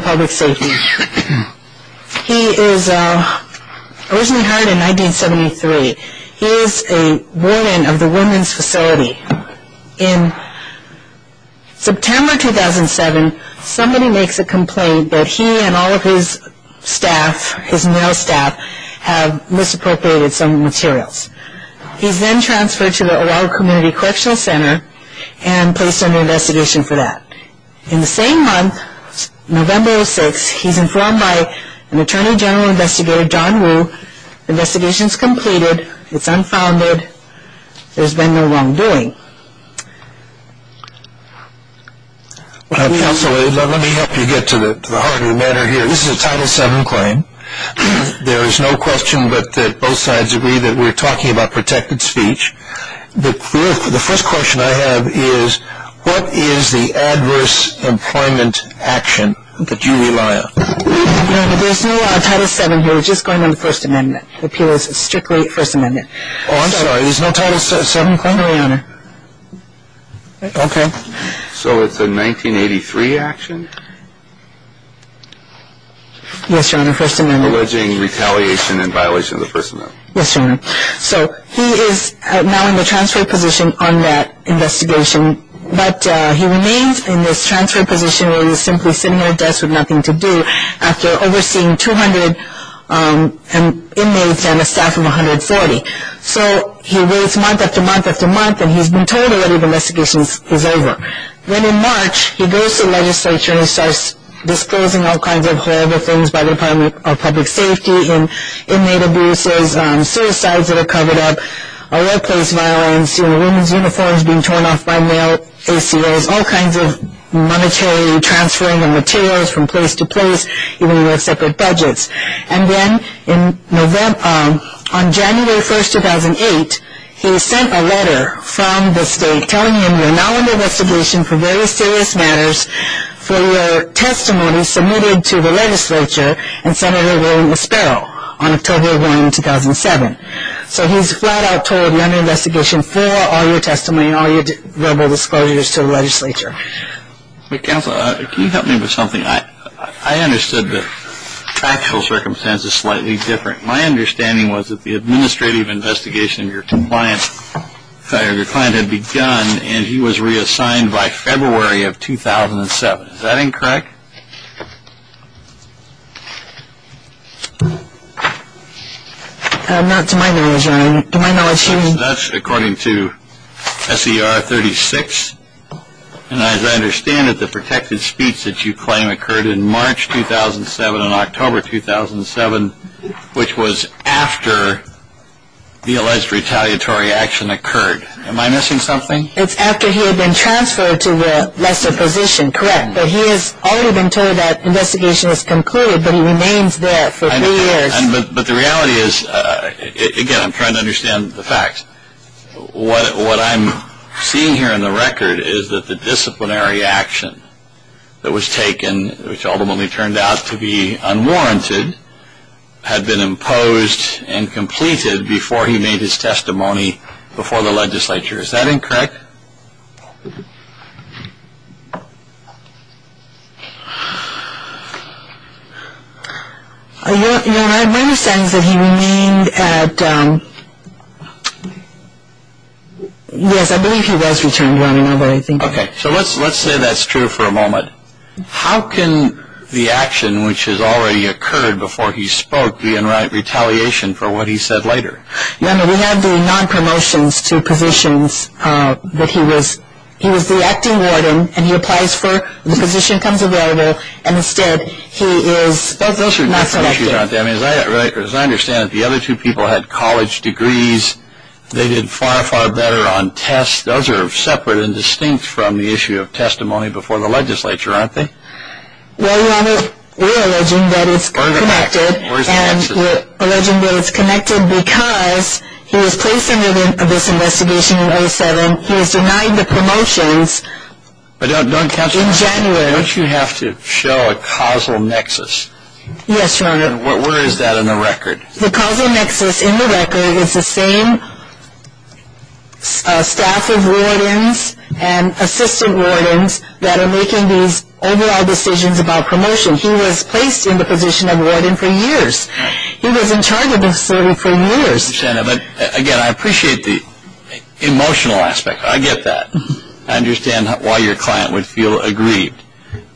Public Safety. He is originally hired in 1973. He is a warden of the women's facility in September 2007, somebody makes a complaint that he and all of his staff, his male staff, have misappropriated some materials. He is then transferred to the Oahu Community Correctional Center and placed under investigation for that. In the same month, November 06, he is informed by an Attorney General Investigator, John Wu, the investigation is completed, it is unfounded, there has been no wrongdoing. Let me help you get to the heart of the matter here. This is a Title VII claim. There is no question but that both sides agree that we are talking about protected speech. The first question I have is, what is the adverse employment action that you rely on? There is no Title VII here, we are just going on the First Amendment. The appeal is strictly First Amendment. Oh, I'm sorry, there is no Title VII claim, Your Honor. Okay. So it's a 1983 action? Yes, Your Honor, First Amendment. Alleging retaliation and violation of the First Amendment. Yes, Your Honor. So he is now in the transfer position on that investigation, but he remains in this transfer position where he is simply sitting at a desk with nothing to do after overseeing 200 inmates and a staff of 140. So he waits month after month after month and he has been told already the investigation is over. When in March, he goes to the legislature and starts disclosing all kinds of horrible things by the Department of Public Safety, inmate abuses, suicides that are covered up, workplace violence, women's uniforms being torn off by male ACOs, all kinds of monetary transferring of materials from place to place, even when you have separate budgets. And then on January 1, 2008, he sent a letter from the state telling him you are now under investigation for very serious matters for your testimony submitted to the legislature and Senator William Sparrow on October 1, 2007. So he is flat out told you are under investigation for all your testimony and all your verbal disclosures to the legislature. Counsel, can you help me with something? I understood the actual circumstances slightly different. My understanding was that the administrative investigation of your client had begun and he was reassigned by February of 2007. Is that incorrect? Not to my knowledge, Your Honor. To my knowledge, he was... That's according to S.E.R. 36. And as I understand it, the protected speech that you claim occurred in March 2007 and October 2007, which was after the alleged retaliatory action occurred. Am I missing something? It's after he had been transferred to the lesser position, correct? But he has already been told that investigation is concluded, but he remains there for three years. But the reality is, again, I'm trying to understand the facts. What I'm seeing here in the record is that the disciplinary action that was taken, which ultimately turned out to be unwarranted, had been imposed and completed before he made his testimony before the legislature. Is that incorrect? Your Honor, my understanding is that he remained at... Yes, I believe he was returned, Your Honor, but I think... Okay. So let's say that's true for a moment. How can the action, which has already occurred before he spoke, be in retaliation for what he said later? Your Honor, we have the non-promotions to positions that he was... He was the acting warden, and he applies for the position comes available, and instead he is... Those are different issues, aren't they? As I understand it, the other two people had college degrees. They did far, far better on tests. Those are separate and distinct from the issue of testimony before the legislature, aren't they? Well, Your Honor, we're alleging that it's connected, and we're alleging that it's connected because he was placed under this investigation in 07. He was denied the promotions in January. But don't you have to show a causal nexus? Yes, Your Honor. Where is that in the record? The causal nexus in the record is the same staff of wardens and assistant wardens that are making these overall decisions about promotion. He was placed in the position of warden for years. He was in charge of the facility for years. I understand that, but again, I appreciate the emotional aspect. I get that. I understand why your client would feel aggrieved.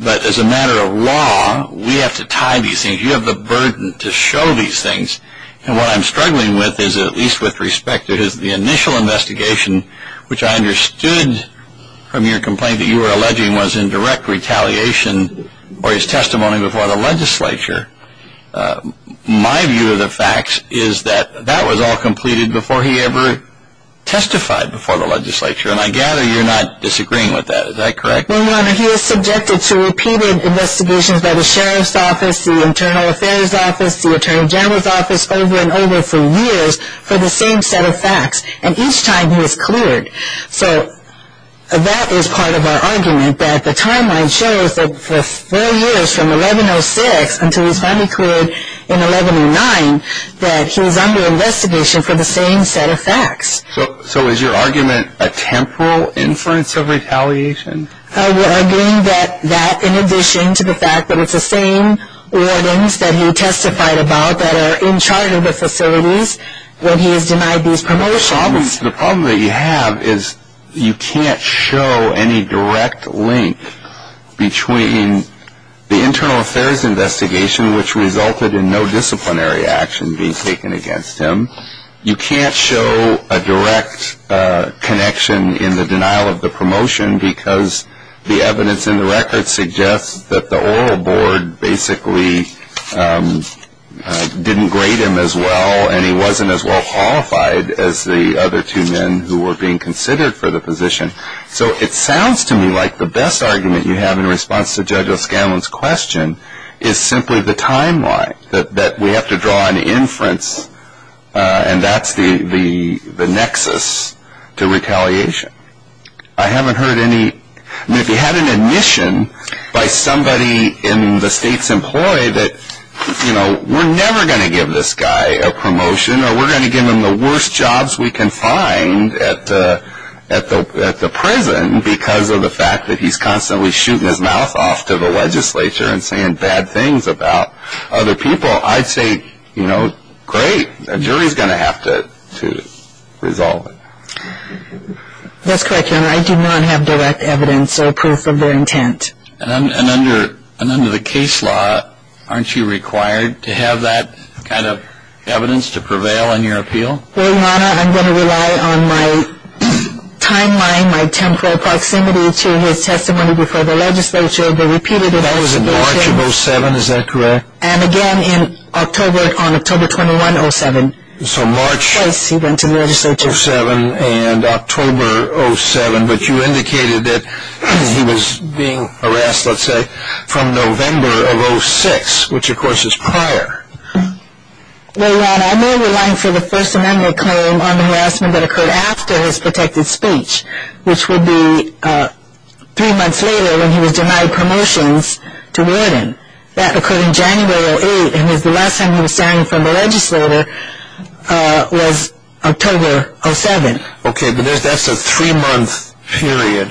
But as a matter of law, we have to tie these things. You have the burden to show these things. And what I'm struggling with is, at least with respect to his initial investigation, which I understood from your complaint that you were alleging was in direct retaliation for his testimony before the legislature. My view of the facts is that that was all completed before he ever testified before the legislature, and I gather you're not disagreeing with that. Is that correct? No, Your Honor. He was subjected to repeated investigations by the Sheriff's Office, the Internal Affairs Office, the Attorney General's Office, over and over for years for the same set of facts, and each time he was cleared. So that is part of our argument, that the timeline shows that for four years, from 1106 until he was finally cleared in 1109, that he was under investigation for the same set of facts. So is your argument a temporal inference of retaliation? We're arguing that that, in addition to the fact that it's the same wardens that he testified about that are in charge of the facilities, that he has denied these promotions. The problem that you have is you can't show any direct link between the internal affairs investigation, which resulted in no disciplinary action being taken against him. You can't show a direct connection in the denial of the promotion because the evidence in the record suggests that the oral board basically didn't grade him as well, and he wasn't as well qualified as the other two men who were being considered for the position. So it sounds to me like the best argument you have in response to Judge O'Scanlan's question is simply the timeline, that we have to draw an inference, and that's the nexus to retaliation. If he had an admission by somebody in the state's employ that, you know, we're never going to give this guy a promotion, or we're going to give him the worst jobs we can find at the prison because of the fact that he's constantly shooting his mouth off to the legislature and saying bad things about other people, I'd say, you know, great. A jury's going to have to resolve it. That's correct, Your Honor. I do not have direct evidence or proof of their intent. And under the case law, aren't you required to have that kind of evidence to prevail in your appeal? Well, Your Honor, I'm going to rely on my timeline, my temporal proximity to his testimony before the legislature, the repeated investigation. That was in March of 07, is that correct? And again in October, on October 21, 07. So March 07 and October 07, but you indicated that he was being harassed, let's say, from November of 06, which of course is prior. Well, Your Honor, I'm only relying for the First Amendment claim on the harassment that occurred after his protected speech, which would be three months later when he was denied promotions to warden. That occurred in January 08, and the last time he was signed from the legislature was October 07. Okay, but that's a three-month period,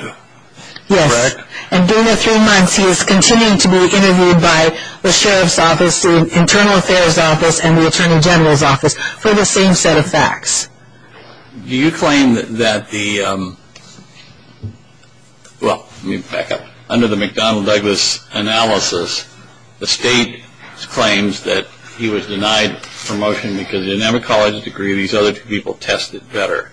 correct? And during the three months, he is continuing to be interviewed by the Sheriff's Office, the Internal Affairs Office, and the Attorney General's Office for the same set of facts. Do you claim that the – well, let me back up. Under the McDonnell-Douglas analysis, the state claims that he was denied promotion because, in every college degree, these other two people tested better.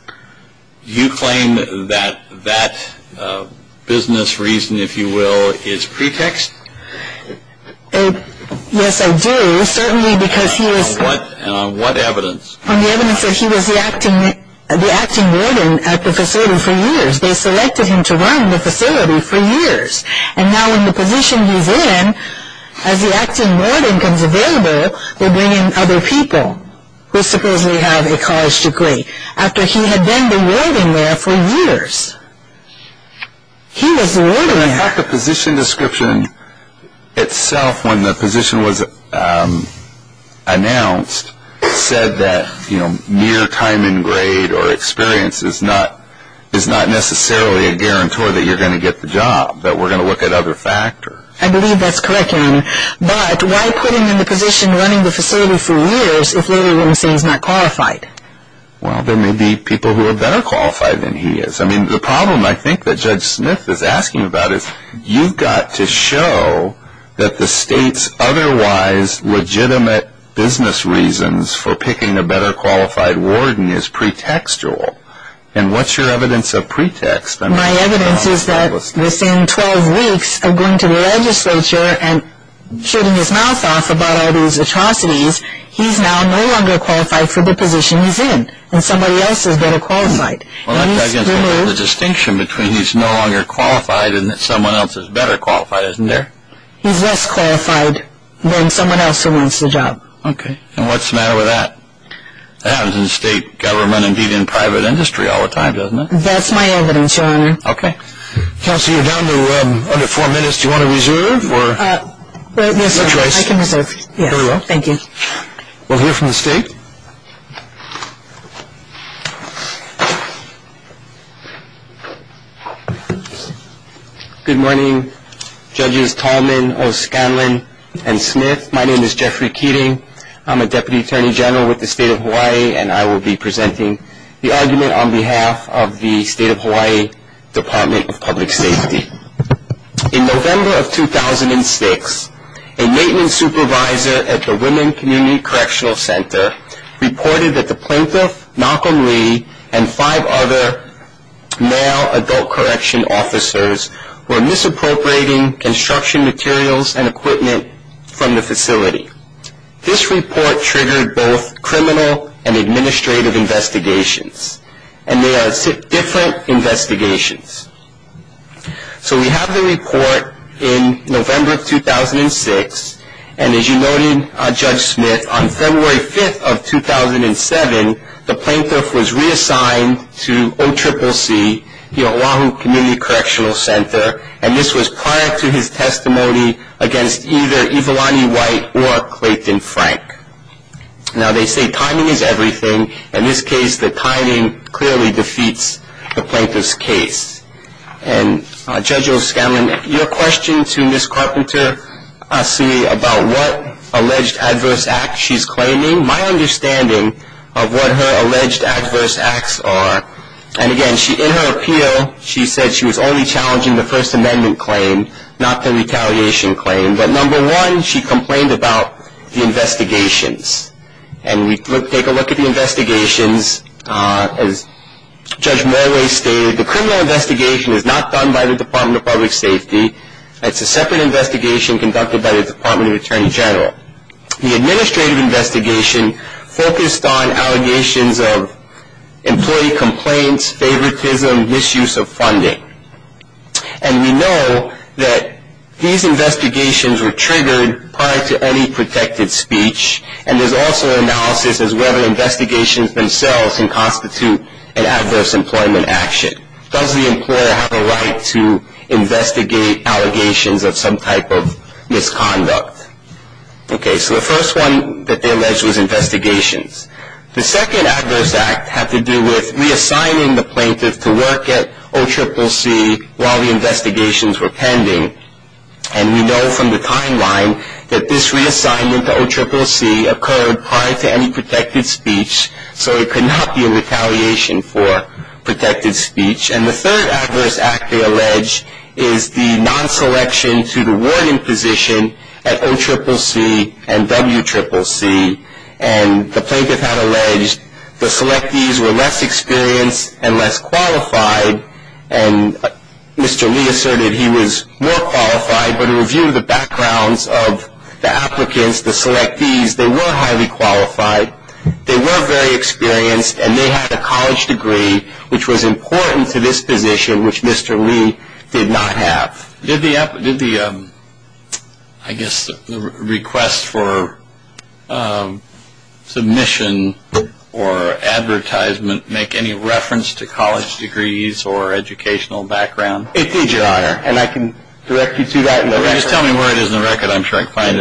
Do you claim that that business reason, if you will, is pretext? Yes, I do, certainly because he was – And on what evidence? On the evidence that he was the acting warden at the facility for years. They selected him to run the facility for years. And now in the position he's in, as the acting warden becomes available, they bring in other people who supposedly have a college degree. After he had been the warden there for years. He was the warden there. In fact, the position description itself, when the position was announced, said that, you know, mere time in grade or experience is not necessarily a guarantor that you're going to get the job, that we're going to look at other factors. I believe that's correct, John. But why put him in the position running the facility for years if later you're going to say he's not qualified? Well, there may be people who are better qualified than he is. I mean, the problem I think that Judge Smith is asking about is you've got to show that the state's otherwise legitimate business reasons for picking a better qualified warden is pretextual. And what's your evidence of pretext? My evidence is that within 12 weeks of going to the legislature and shooting his mouth off about all these atrocities, he's now no longer qualified for the position he's in. And somebody else is better qualified. Well, that's against the distinction between he's no longer qualified and that someone else is better qualified, isn't there? He's less qualified than someone else who wants the job. Okay. And what's the matter with that? That happens in state government, indeed, in private industry all the time, doesn't it? That's my evidence, Your Honor. Okay. Counsel, you're down to under four minutes. Do you want to reserve? No, sir. No choice. I can reserve. Very well. Thank you. We'll hear from the state. Good morning, Judges Tallman, O'Sconlan, and Smith. My name is Jeffrey Keating. I'm a Deputy Attorney General with the State of Hawaii, and I will be presenting the argument on behalf of the State of Hawaii Department of Public Safety. In November of 2006, a maintenance supervisor at the Women Community Correctional Center reported that the plaintiff, Malcolm Lee, and five other male adult correction officers were misappropriating construction materials and equipment from the facility. This report triggered both criminal and administrative investigations, and they are different investigations. So we have the report in November of 2006, and as you noted, Judge Smith, on February 5th of 2007, the plaintiff was reassigned to OCCC, the Oahu Community Correctional Center, and this was prior to his testimony against either Iwilani White or Clayton Frank. Now, they say timing is everything. In this case, the timing clearly defeats the plaintiff's case. And, Judge O'Sconlan, your question to Ms. Carpenter Asi about what alleged adverse acts she's claiming, my understanding of what her alleged adverse acts are, and again, in her appeal, she said she was only challenging the First Amendment claim, not the retaliation claim. But, number one, she complained about the investigations. And we take a look at the investigations. As Judge Morley stated, the criminal investigation is not done by the Department of Public Safety. It's a separate investigation conducted by the Department of Attorney General. The administrative investigation focused on allegations of employee complaints, favoritism, misuse of funding. And we know that these investigations were triggered prior to any protected speech, and there's also analysis as whether investigations themselves can constitute an adverse employment action. Does the employer have a right to investigate allegations of some type of misconduct? Okay, so the first one that they alleged was investigations. The second adverse act had to do with reassigning the plaintiff to work at OCCC while the investigations were pending. And we know from the timeline that this reassignment to OCCC occurred prior to any protected speech, so it could not be a retaliation for protected speech. And the third adverse act they allege is the non-selection to the warning position at OCCC and WCCC. And the plaintiff had alleged the selectees were less experienced and less qualified, and Mr. Lee asserted he was more qualified. But a review of the backgrounds of the applicants, the selectees, they were highly qualified. They were very experienced, and they had a college degree, which was important to this position, which Mr. Lee did not have. Did the, I guess, request for submission or advertisement make any reference to college degrees or educational background? It did, Your Honor. And I can direct you to that in the record. Just tell me where it is in the record. I'm sure I can find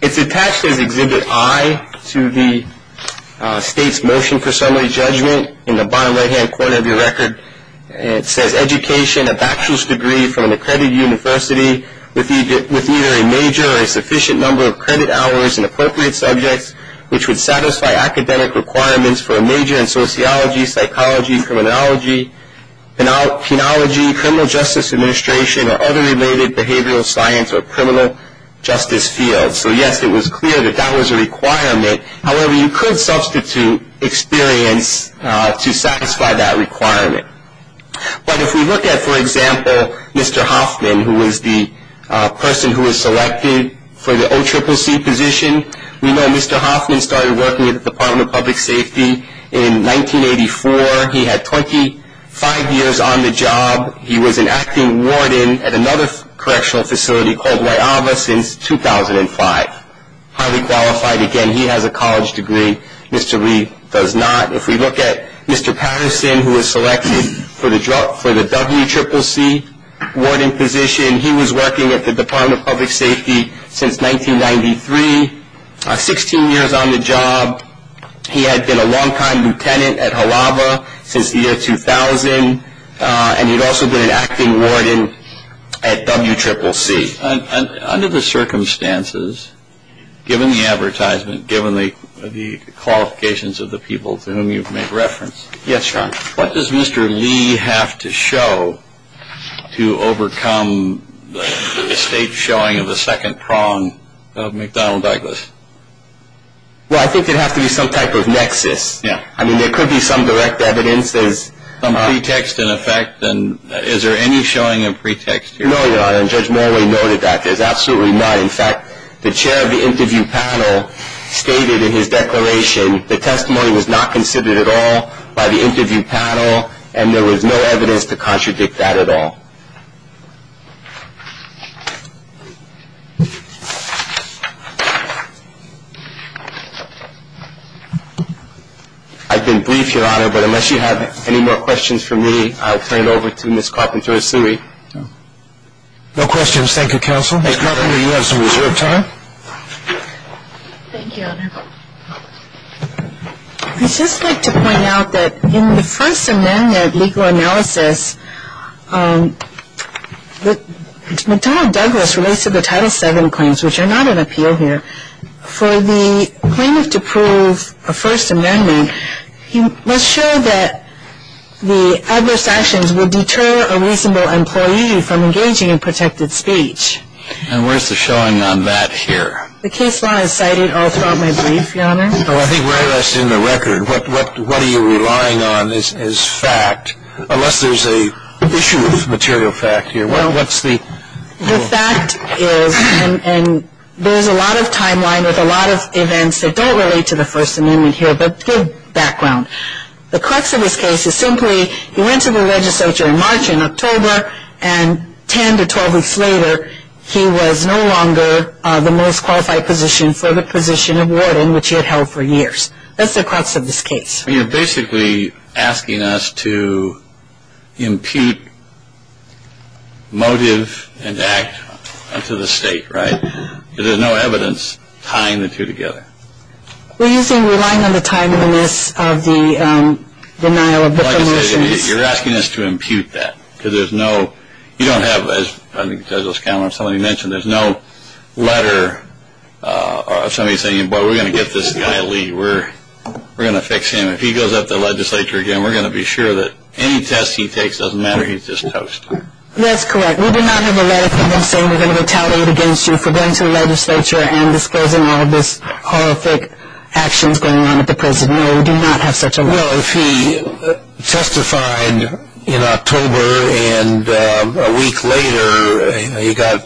it. It's attached as Exhibit I to the State's Motion for Summary Judgment. In the bottom right-hand corner of your record, it says, Education, a bachelor's degree from an accredited university with either a major or a sufficient number of credit hours in appropriate subjects, which would satisfy academic requirements for a major in sociology, psychology, criminology, penology, criminal justice administration, or other related behavioral science or criminal justice fields. So, yes, it was clear that that was a requirement. However, you could substitute experience to satisfy that requirement. But if we look at, for example, Mr. Hoffman, who was the person who was selected for the OCCC position, we know Mr. Hoffman started working at the Department of Public Safety in 1984. He had 25 years on the job. He was an acting warden at another correctional facility called Weyava since 2005. Highly qualified. Again, he has a college degree. Mr. Lee does not. If we look at Mr. Patterson, who was selected for the WCCC warding position, he was working at the Department of Public Safety since 1993, 16 years on the job. He had been a long-time lieutenant at Halawa since the year 2000. And he had also been an acting warden at WCCC. And under the circumstances, given the advertisement, given the qualifications of the people to whom you've made reference, what does Mr. Lee have to show to overcome the stage showing of the second prong of McDonald-Douglas? Well, I think there'd have to be some type of nexus. Yeah. I mean, there could be some direct evidence. Some pretext, in effect. Is there any showing of pretext here? No, Your Honor, and Judge Morley noted that. There's absolutely none. In fact, the chair of the interview panel stated in his declaration, the testimony was not considered at all by the interview panel, and there was no evidence to contradict that at all. I've been brief, Your Honor, but unless you have any more questions for me, I'll turn it over to Ms. Carpenter-Asui. No questions. Thank you, counsel. Ms. Carpenter, you have some reserved time. Thank you, Your Honor. I'd just like to point out that in the first amendment legal analysis, McDonald-Douglas relates to the Title VII claims, which are not an appeal here. For the plaintiff to prove a first amendment, he must show that the adverse actions will deter a reasonable employee from engaging in protected speech. And where's the showing on that here? The case law is cited all throughout my brief, Your Honor. Well, I think very less in the record. What are you relying on is fact, unless there's an issue of material fact here. The fact is, and there's a lot of timeline with a lot of events that don't relate to the first amendment here, but give background. The crux of this case is simply he went to the legislature in March and October, and 10 to 12 weeks later he was no longer the most qualified position for the position of warden, which he had held for years. That's the crux of this case. You're basically asking us to impute motive and act to the state, right? There's no evidence tying the two together. We're relying on the timeliness of the denial of the promotions. You're asking us to impute that, because there's no, you don't have, as I think Judge Loscalo and somebody mentioned, there's no letter of somebody saying, boy, we're going to get this guy a lead. We're going to fix him. If he goes up to the legislature again, we're going to be sure that any test he takes doesn't matter. He's just toast. That's correct. We do not have a letter from them saying we're going to retaliate against you for going to the legislature and disclosing all of this horrific actions going on at the prison. No, we do not have such a letter. Well, if he testified in October and a week later he got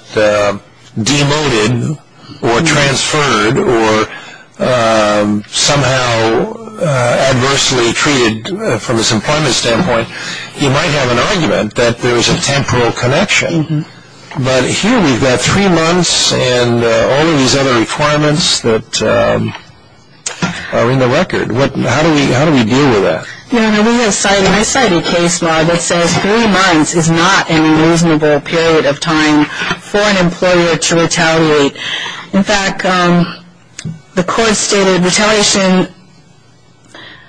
demoted or transferred or somehow adversely treated from his employment standpoint, he might have an argument that there was a temporal connection. But here we've got three months and all of these other requirements that are in the record. How do we deal with that? We have cited a case law that says three months is not a reasonable period of time for an employer to retaliate. In fact, the court stated retaliation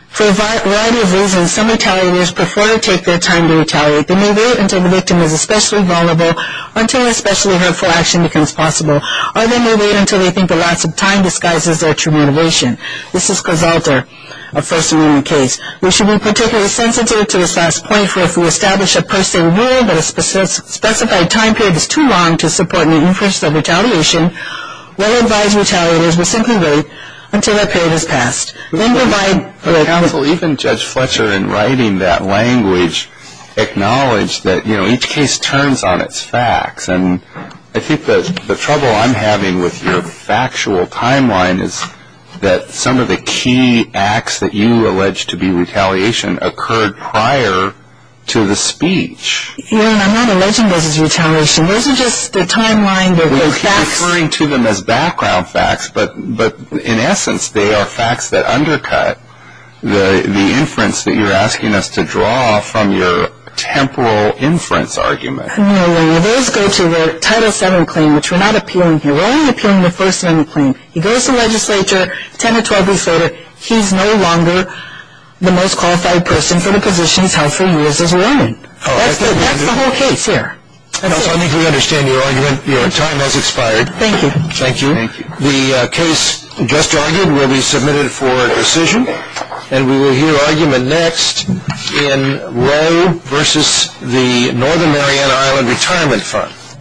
for a variety of reasons. Some retaliators prefer to take their time to retaliate. They may wait until the victim is especially vulnerable, until especially hurtful action becomes possible, or they may wait until they think the last of time disguises their true motivation. This has resulted in a first-degree case. We should be particularly sensitive to this last point for if we establish a personal rule that a specified time period is too long to support an increase of retaliation, we'll advise retaliators we'll simply wait until that period has passed. Then provide the counsel, even Judge Fletcher, in writing that language, acknowledged that, you know, each case turns on its facts. And I think the trouble I'm having with your factual timeline is that some of the key acts that you allege to be retaliation occurred prior to the speech. Aaron, I'm not alleging this is retaliation. Those are just the timeline, the facts. We're referring to them as background facts, but in essence, they are facts that undercut the inference that you're asking us to draw from your temporal inference argument. Those go to the Title VII claim, which we're not appealing here. We're only appealing the First Amendment claim. He goes to legislature 10 or 12 weeks later. He's no longer the most qualified person for the positions held for years as a woman. That's the whole case here. I think we understand your argument. Your time has expired. Thank you. Thank you. The case just argued will be submitted for decision, and we will hear argument next in Roe v. The Northern Mariana Island Retirement Fund.